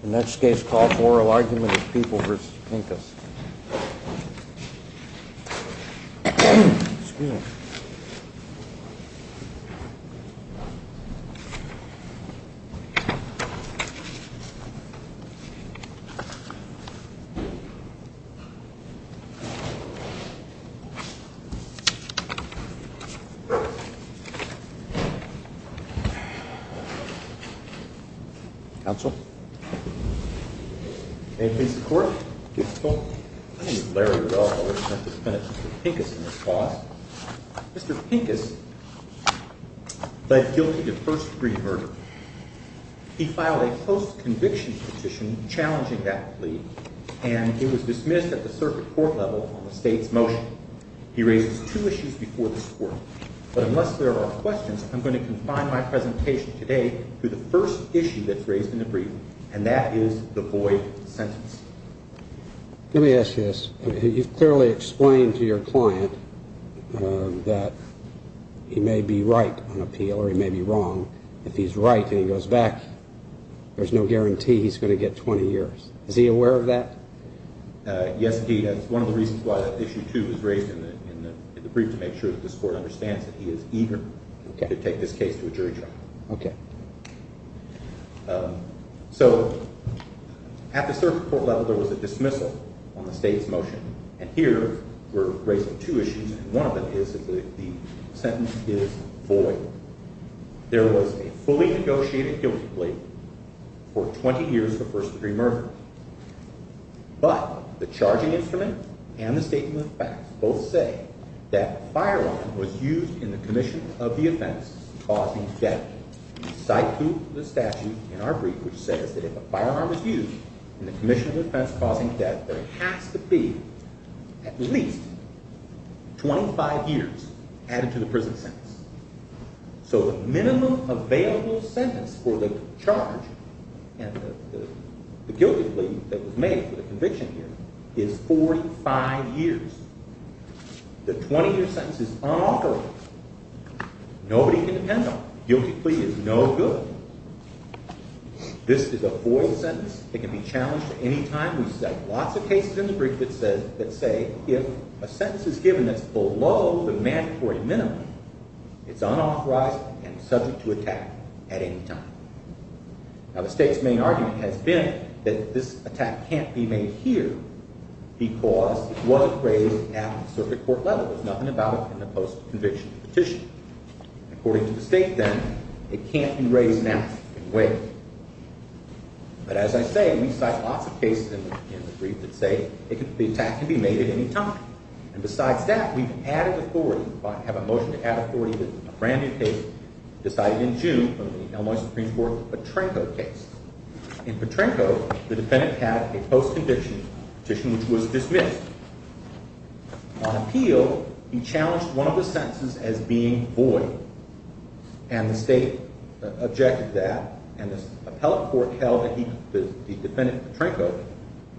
The next case is called Oral Argument of People v. Pinkas. Mr. Pinkas led guilty to first-degree murder. He filed a post-conviction petition challenging that plea, and it was dismissed at the circuit court level on the state's motion. He raises two issues before this court. But unless there are questions, I'm going to confine my presentation today to the first issue that's raised in the brief, and that is the void sentence. Let me ask you this. You've clearly explained to your client that he may be right on appeal or he may be wrong. If he's right and he goes back, there's no guarantee he's going to get 20 years. Is he aware of that? Yes, he does. One of the reasons why that issue, too, was raised in the brief is to make sure that this court understands that he is eager to take this case to a jury trial. At the circuit court level, there was a dismissal on the state's motion, and here we're raising two issues, and one of them is that the sentence is void. There was a fully negotiated guilty plea for 20 years for first-degree murder. But the charging instrument and the statement of facts both say that a firearm was used in the commission of the offense causing death. We cite to the statute in our brief which says that if a firearm is used in the commission of offense causing death, there has to be at least 25 years added to the prison sentence. So the minimum available sentence for the charge and the guilty plea that was made for the conviction here is 45 years. The 20-year sentence is unauthorized. Nobody can depend on it. Guilty plea is no good. This is a void sentence that can be challenged at any time. We cite lots of cases in the brief that say if a sentence is given that's below the mandatory minimum, it's unauthorized and subject to attack at any time. Now the state's main argument has been that this attack can't be made here because it was raised at the circuit court level. There's nothing about it in the post-conviction petition. According to the state then, it can't be raised now in any way. But as I say, we cite lots of cases in the brief that say the attack can be made at any time. And besides that, we've added authority, have a motion to add authority to a brand new case decided in June from the Illinois Supreme Court, the Petrenko case. In Petrenko, the defendant had a post-conviction petition which was dismissed. On appeal, he challenged one of the sentences as being void, and the state objected to that, and the appellate court held that the defendant, Petrenko,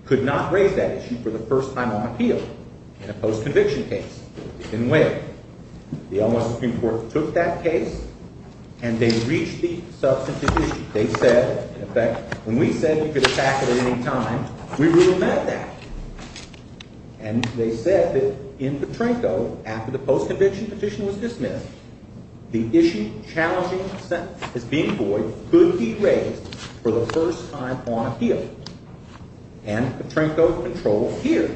could not raise that issue for the first time on appeal in a post-conviction case. It didn't work. The Illinois Supreme Court took that case, and they reached the substantive issue. They said, in effect, when we said you could attack it at any time, we really meant that. And they said that in Petrenko, after the post-conviction petition was dismissed, the issue challenging the sentence as being void could be raised for the first time on appeal. And Petrenko controls here.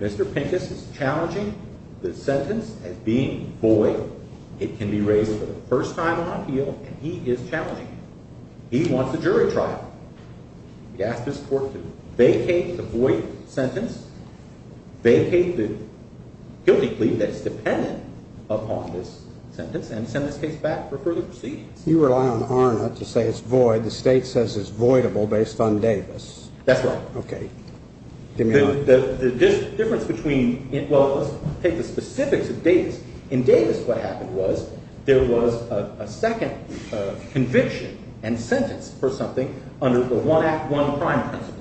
Mr. Pincus is challenging the sentence as being void. It can be raised for the first time on appeal, and he is challenging it. He wants a jury trial. He asked his court to vacate the void sentence, vacate the guilty plea that's dependent upon this sentence, and send this case back for further proceedings. You rely on ARNA to say it's void. The state says it's voidable based on Davis. That's right. OK. The difference between – well, let's take the specifics of Davis. In Davis, what happened was there was a second conviction and sentence for something under the One Act, One Crime principles.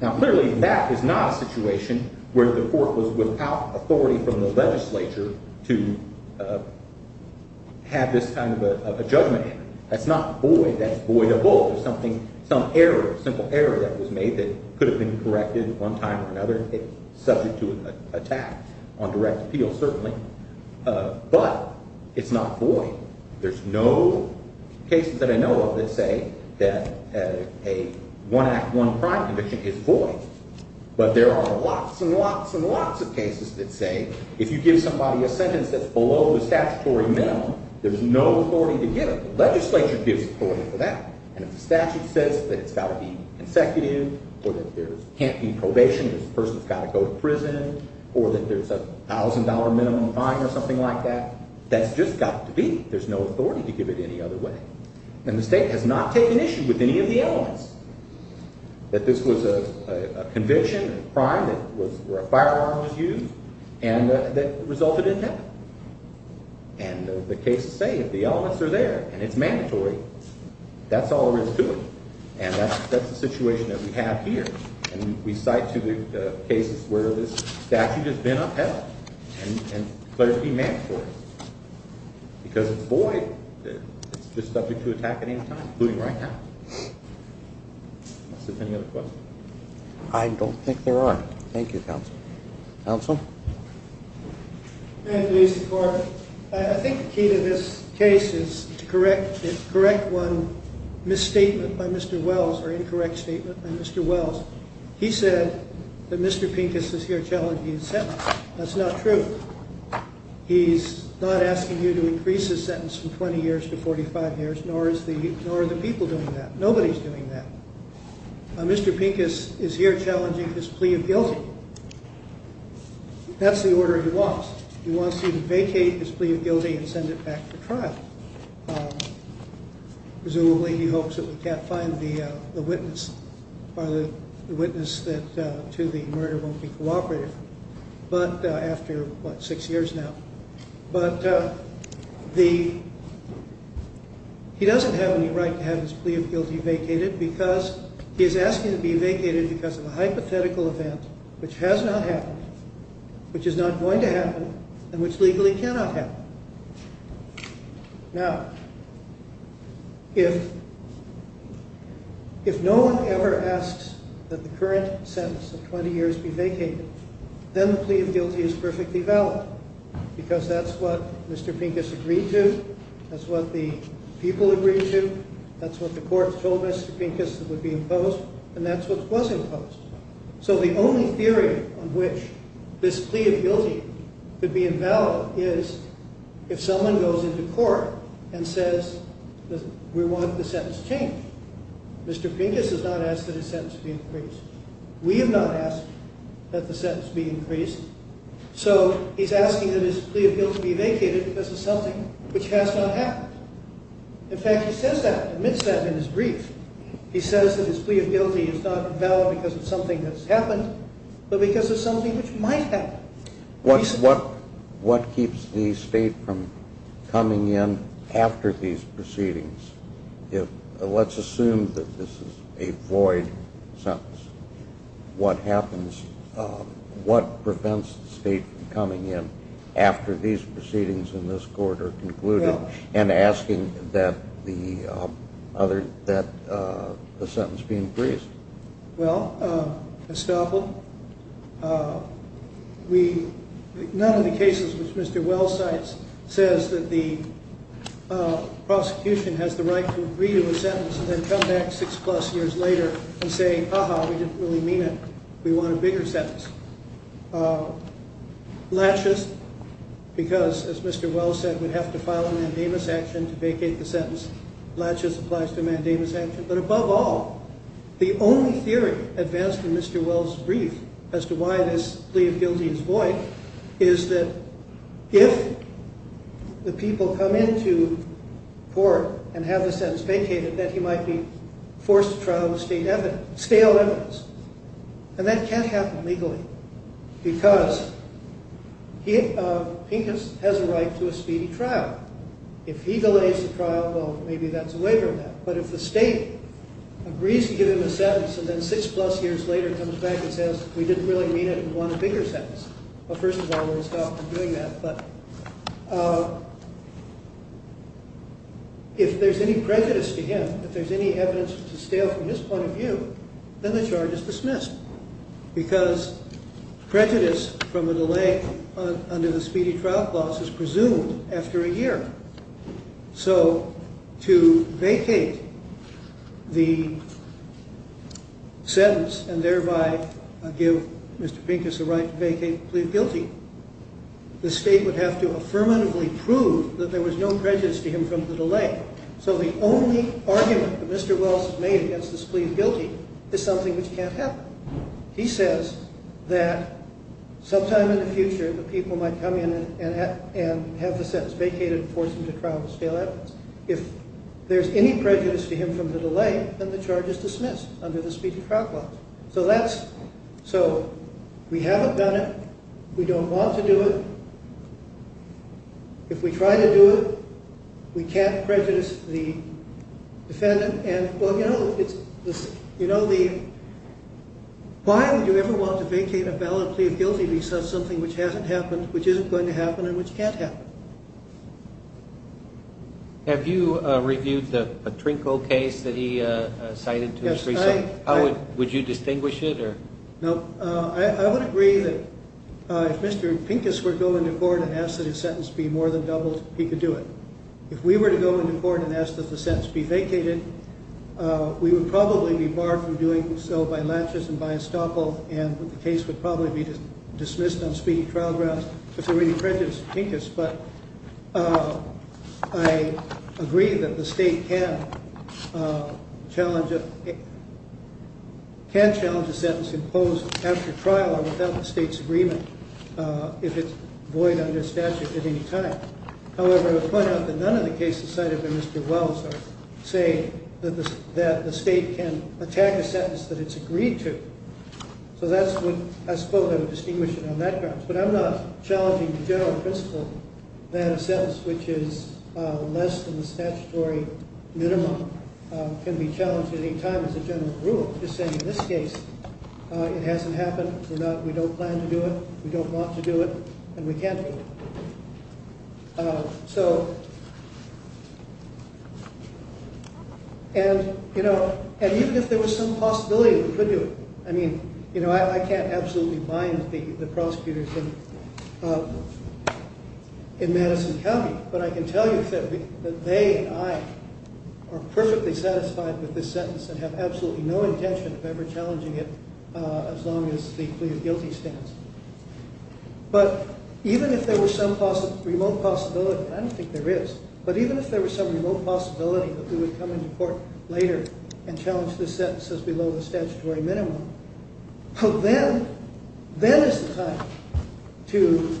Now, clearly, that is not a situation where the court was without authority from the legislature to have this kind of a judgment. That's not void. That's voidable. It's not void. There's no cases that I know of that say that a One Act, One Crime conviction is void. But there are lots and lots and lots of cases that say if you give somebody a sentence that's below the statutory minimum, there's no authority to give it. And if the statute says that it's got to be consecutive or that there can't be probation, this person's got to go to prison, or that there's a $1,000 minimum fine or something like that, that's just got to be. There's no authority to give it any other way. And the state has not taken issue with any of the elements that this was a conviction, a crime that was – where a firearm was used and that resulted in death. And the cases say if the elements are there and it's mandatory, that's all there is to it. And that's the situation that we have here. And we cite to the cases where this statute has been upheld and clearly mandatory. Because it's void. It's just subject to attack at any time, including right now. Unless there's any other questions. I don't think there are. Thank you, counsel. Counsel? I think the key to this case is to correct one misstatement by Mr. Wells or incorrect statement by Mr. Wells. He said that Mr. Pincus is here challenging his sentence. That's not true. He's not asking you to increase his sentence from 20 years to 45 years, nor are the people doing that. Nobody's doing that. Mr. Pincus is here challenging his plea of guilty. That's the order he wants. He wants you to vacate his plea of guilty and send it back for trial. Presumably he hopes that we can't find the witness or the witness to the murder won't be cooperative after, what, six years now. But he doesn't have any right to have his plea of guilty vacated because he is asking to be vacated because of a hypothetical event which has not happened, which is not going to happen, and which legally cannot happen. Now, if no one ever asks that the current sentence of 20 years be vacated, then the plea of guilty is perfectly valid because that's what Mr. Pincus agreed to. That's what the people agreed to. That's what the court told Mr. Pincus that would be imposed, and that's what was imposed. So the only theory on which this plea of guilty could be invalid is if someone goes into court and says that we want the sentence changed. Mr. Pincus has not asked that his sentence be increased. We have not asked that the sentence be increased. So he's asking that his plea of guilty be vacated because of something which has not happened. In fact, he says that, admits that in his brief. He says that his plea of guilty is not valid because of something that's happened, but because of something which might happen. What keeps the state from coming in after these proceedings? Let's assume that this is a void sentence. What prevents the state from coming in after these proceedings in this court are concluded and asking that the sentence be increased? Well, Estoppel, none of the cases which Mr. Wells cites says that the prosecution has the right to agree to a sentence and then come back six plus years later and say, aha, we didn't really mean it. We want a bigger sentence. Latches, because as Mr. Wells said, we'd have to file a mandamus action to vacate the sentence. Latches applies to a mandamus action. But above all, the only theory advanced in Mr. Wells' brief as to why this plea of guilty is void is that if the people come into court and have the sentence vacated, that he might be forced to trial with stale evidence. And that can't happen legally because Pincus has a right to a speedy trial. If he delays the trial, well, maybe that's a waiver of that. But if the state agrees to give him a sentence and then six plus years later comes back and says, we didn't really mean it. We want a bigger sentence. Well, first of all, we'll stop doing that. But if there's any prejudice to him, if there's any evidence to stale from his point of view, then the charge is dismissed. Because prejudice from a delay under the speedy trial clause is presumed after a year. So to vacate the sentence and thereby give Mr. Pincus a right to vacate the plea of guilty, the state would have to affirmatively prove that there was no prejudice to him from the delay. So the only argument that Mr. Wells has made against this plea of guilty is something which can't happen. He says that sometime in the future, the people might come in and have the sentence vacated and force him to trial with stale evidence. If there's any prejudice to him from the delay, then the charge is dismissed under the speedy trial clause. So we haven't done it. We don't want to do it. If we try to do it, we can't prejudice the defendant. And, well, you know, why would you ever want to vacate a valid plea of guilty because of something which hasn't happened, which isn't going to happen, and which can't happen? Have you reviewed the Patrinko case that he cited? Yes, I have. Would you distinguish it? No, I would agree that if Mr. Pincus were to go into court and ask that his sentence be more than doubled, he could do it. If we were to go into court and ask that the sentence be vacated, we would probably be barred from doing so by laches and by estoppel, and the case would probably be dismissed on speedy trial grounds if there were any prejudice to Pincus. But I agree that the state can challenge a sentence imposed after trial or without the state's agreement if it's void under statute at any time. However, I would point out that none of the cases cited by Mr. Wells are saying that the state can attack a sentence that it's agreed to. So that's what I suppose I would distinguish it on that grounds. But I'm not challenging the general principle that a sentence which is less than the statutory minimum can be challenged at any time as a general rule. I'm just saying in this case, it hasn't happened, we don't plan to do it, we don't want to do it, and we can't do it. And even if there was some possibility that we could do it, I mean, I can't absolutely bind the prosecutors in Madison County, but I can tell you that they and I are perfectly satisfied with this sentence and have absolutely no intention of ever challenging it as long as the plea of guilty stands. But even if there was some remote possibility, and I don't think there is, but even if there was some remote possibility that we would come into court later and challenge this sentence as below the statutory minimum, then is the time to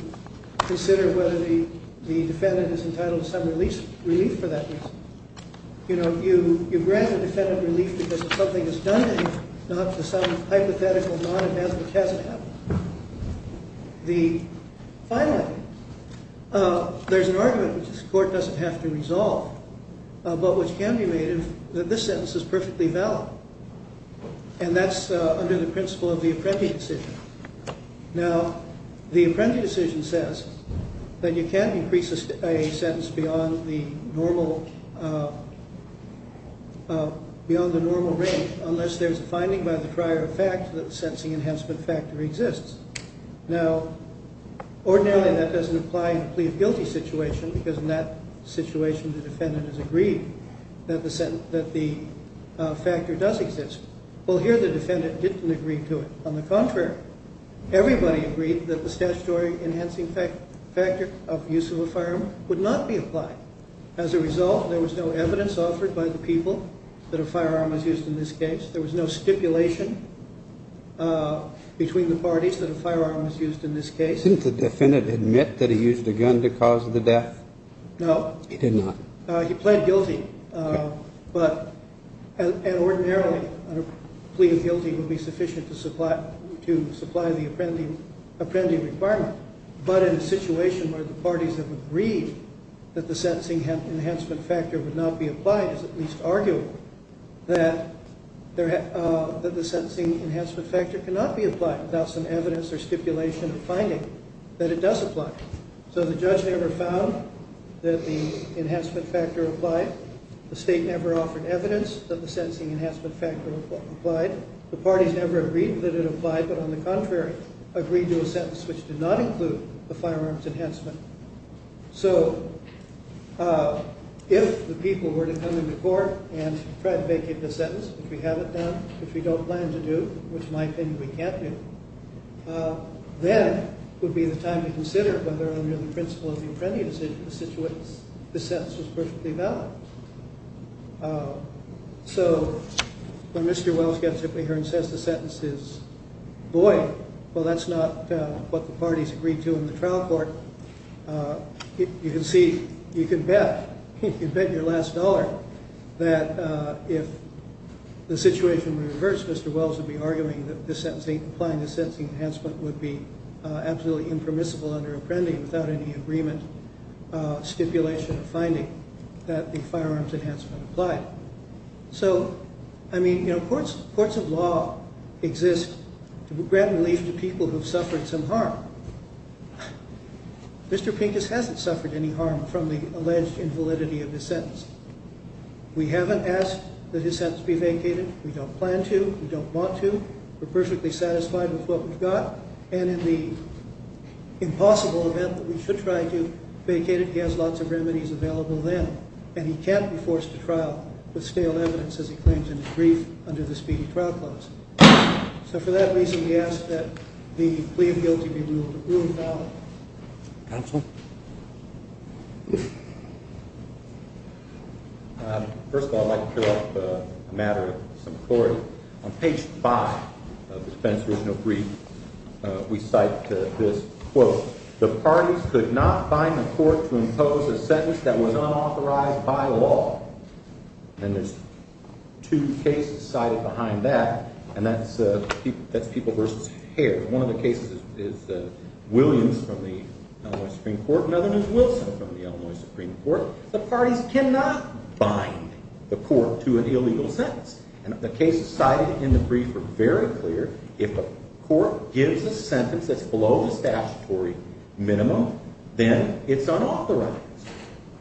consider whether the defendant is entitled to some relief for that reason. You know, you grant the defendant relief because of something that's done to him, not for some hypothetical non-advancement which hasn't happened. Finally, there's an argument which this court doesn't have to resolve, but which can be made if this sentence is perfectly valid. And that's under the principle of the Apprenti decision. Now, the Apprenti decision says that you can't increase a sentence beyond the normal range unless there's a finding by the prior effect that the sentencing enhancement factor exists. Now, ordinarily that doesn't apply in a plea of guilty situation because in that situation the defendant has agreed that the factor does exist. Well, here the defendant didn't agree to it. On the contrary, everybody agreed that the statutory enhancing factor of use of a firearm would not be applied. As a result, there was no evidence offered by the people that a firearm was used in this case. There was no stipulation between the parties that a firearm was used in this case. Didn't the defendant admit that he used a gun to cause the death? No. He did not. He pled guilty, but ordinarily a plea of guilty would be sufficient to supply the Apprenti requirement, but in a situation where the parties have agreed that the sentencing enhancement factor would not be applied, it's at least arguable that the sentencing enhancement factor cannot be applied without some evidence or stipulation or finding that it does apply. So the judge never found that the enhancement factor applied. The state never offered evidence that the sentencing enhancement factor applied. The parties never agreed that it applied, but on the contrary, agreed to a sentence which did not include the firearms enhancement. So if the people were to come into court and try to vacate the sentence, which we haven't done, which we don't plan to do, which in my opinion we can't do, then it would be the time to consider whether under the principle of the Apprenti decision, the sentence was perfectly valid. So when Mr. Wells gets up in here and says the sentence is void, well, that's not what the parties agreed to in the trial court. You can see, you can bet, you can bet your last dollar that if the situation were reversed, Mr. Wells would be arguing that applying the sentencing enhancement would be absolutely impermissible under Apprenti without any agreement, stipulation, or finding that the firearms enhancement applied. So, I mean, you know, courts of law exist to grant relief to people who have suffered some harm. Mr. Pincus hasn't suffered any harm from the alleged invalidity of his sentence. We haven't asked that his sentence be vacated. We don't plan to. We don't want to. We're perfectly satisfied with what we've got. And in the impossible event that we should try to vacate it, he has lots of remedies available then, and he can't be forced to trial with stale evidence as he claims in his brief under the speedy trial clause. So for that reason, we ask that the plea of guilty be ruled valid. Counsel? First of all, I'd like to pick up a matter of some authority. On page 5 of the Spencer's brief, we cite this quote, The parties could not bind the court to impose a sentence that was unauthorized by law. And there's two cases cited behind that, and that's People v. Hare. One of the cases is Williams from the Illinois Supreme Court, another is Wilson from the Illinois Supreme Court. The parties cannot bind the court to an illegal sentence. And the cases cited in the brief are very clear. If a court gives a sentence that's below the statutory minimum, then it's unauthorized.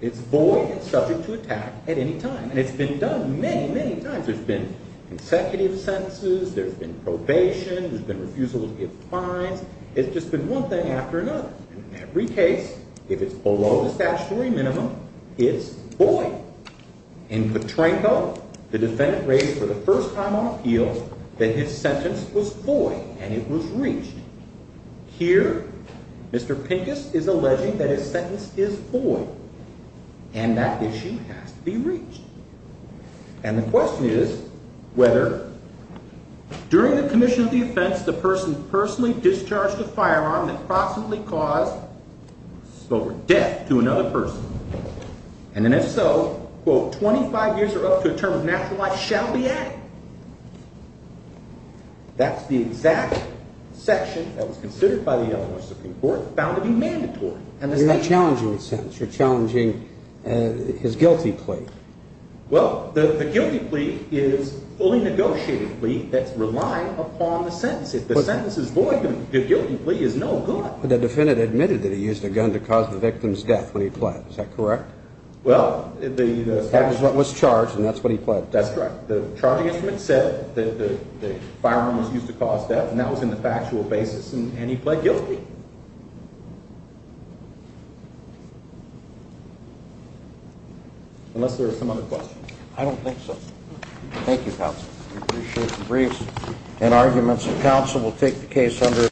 It's void and subject to attack at any time. And it's been done many, many times. There's been consecutive sentences. There's been probation. There's been refusal to give fines. It's just been one thing after another. In every case, if it's below the statutory minimum, it's void. In Petrenko, the defendant raised for the first time on appeals that his sentence was void and it was reached. Here, Mr. Pincus is alleging that his sentence is void and that issue has to be reached. And the question is whether during the commission of the offense, the person personally discharged a firearm that possibly caused death to another person. And then if so, quote, 25 years or up to a term of natural life shall be added. That's the exact section that was considered by the Illinois Supreme Court, found to be mandatory. You're not challenging the sentence. You're challenging his guilty plea. Well, the guilty plea is a fully negotiated plea that's relying upon the sentence. If the sentence is void, the guilty plea is no good. The defendant admitted that he used a gun to cause the victim's death when he pled. Is that correct? Well, the gun was charged, and that's what he pled. That's correct. The charging instrument said that the firearm was used to cause death, and that was in the factual basis, and he pled guilty. Unless there are some other questions. I don't think so. Thank you, counsel. We appreciate the briefs and arguments. Counsel will take the case under.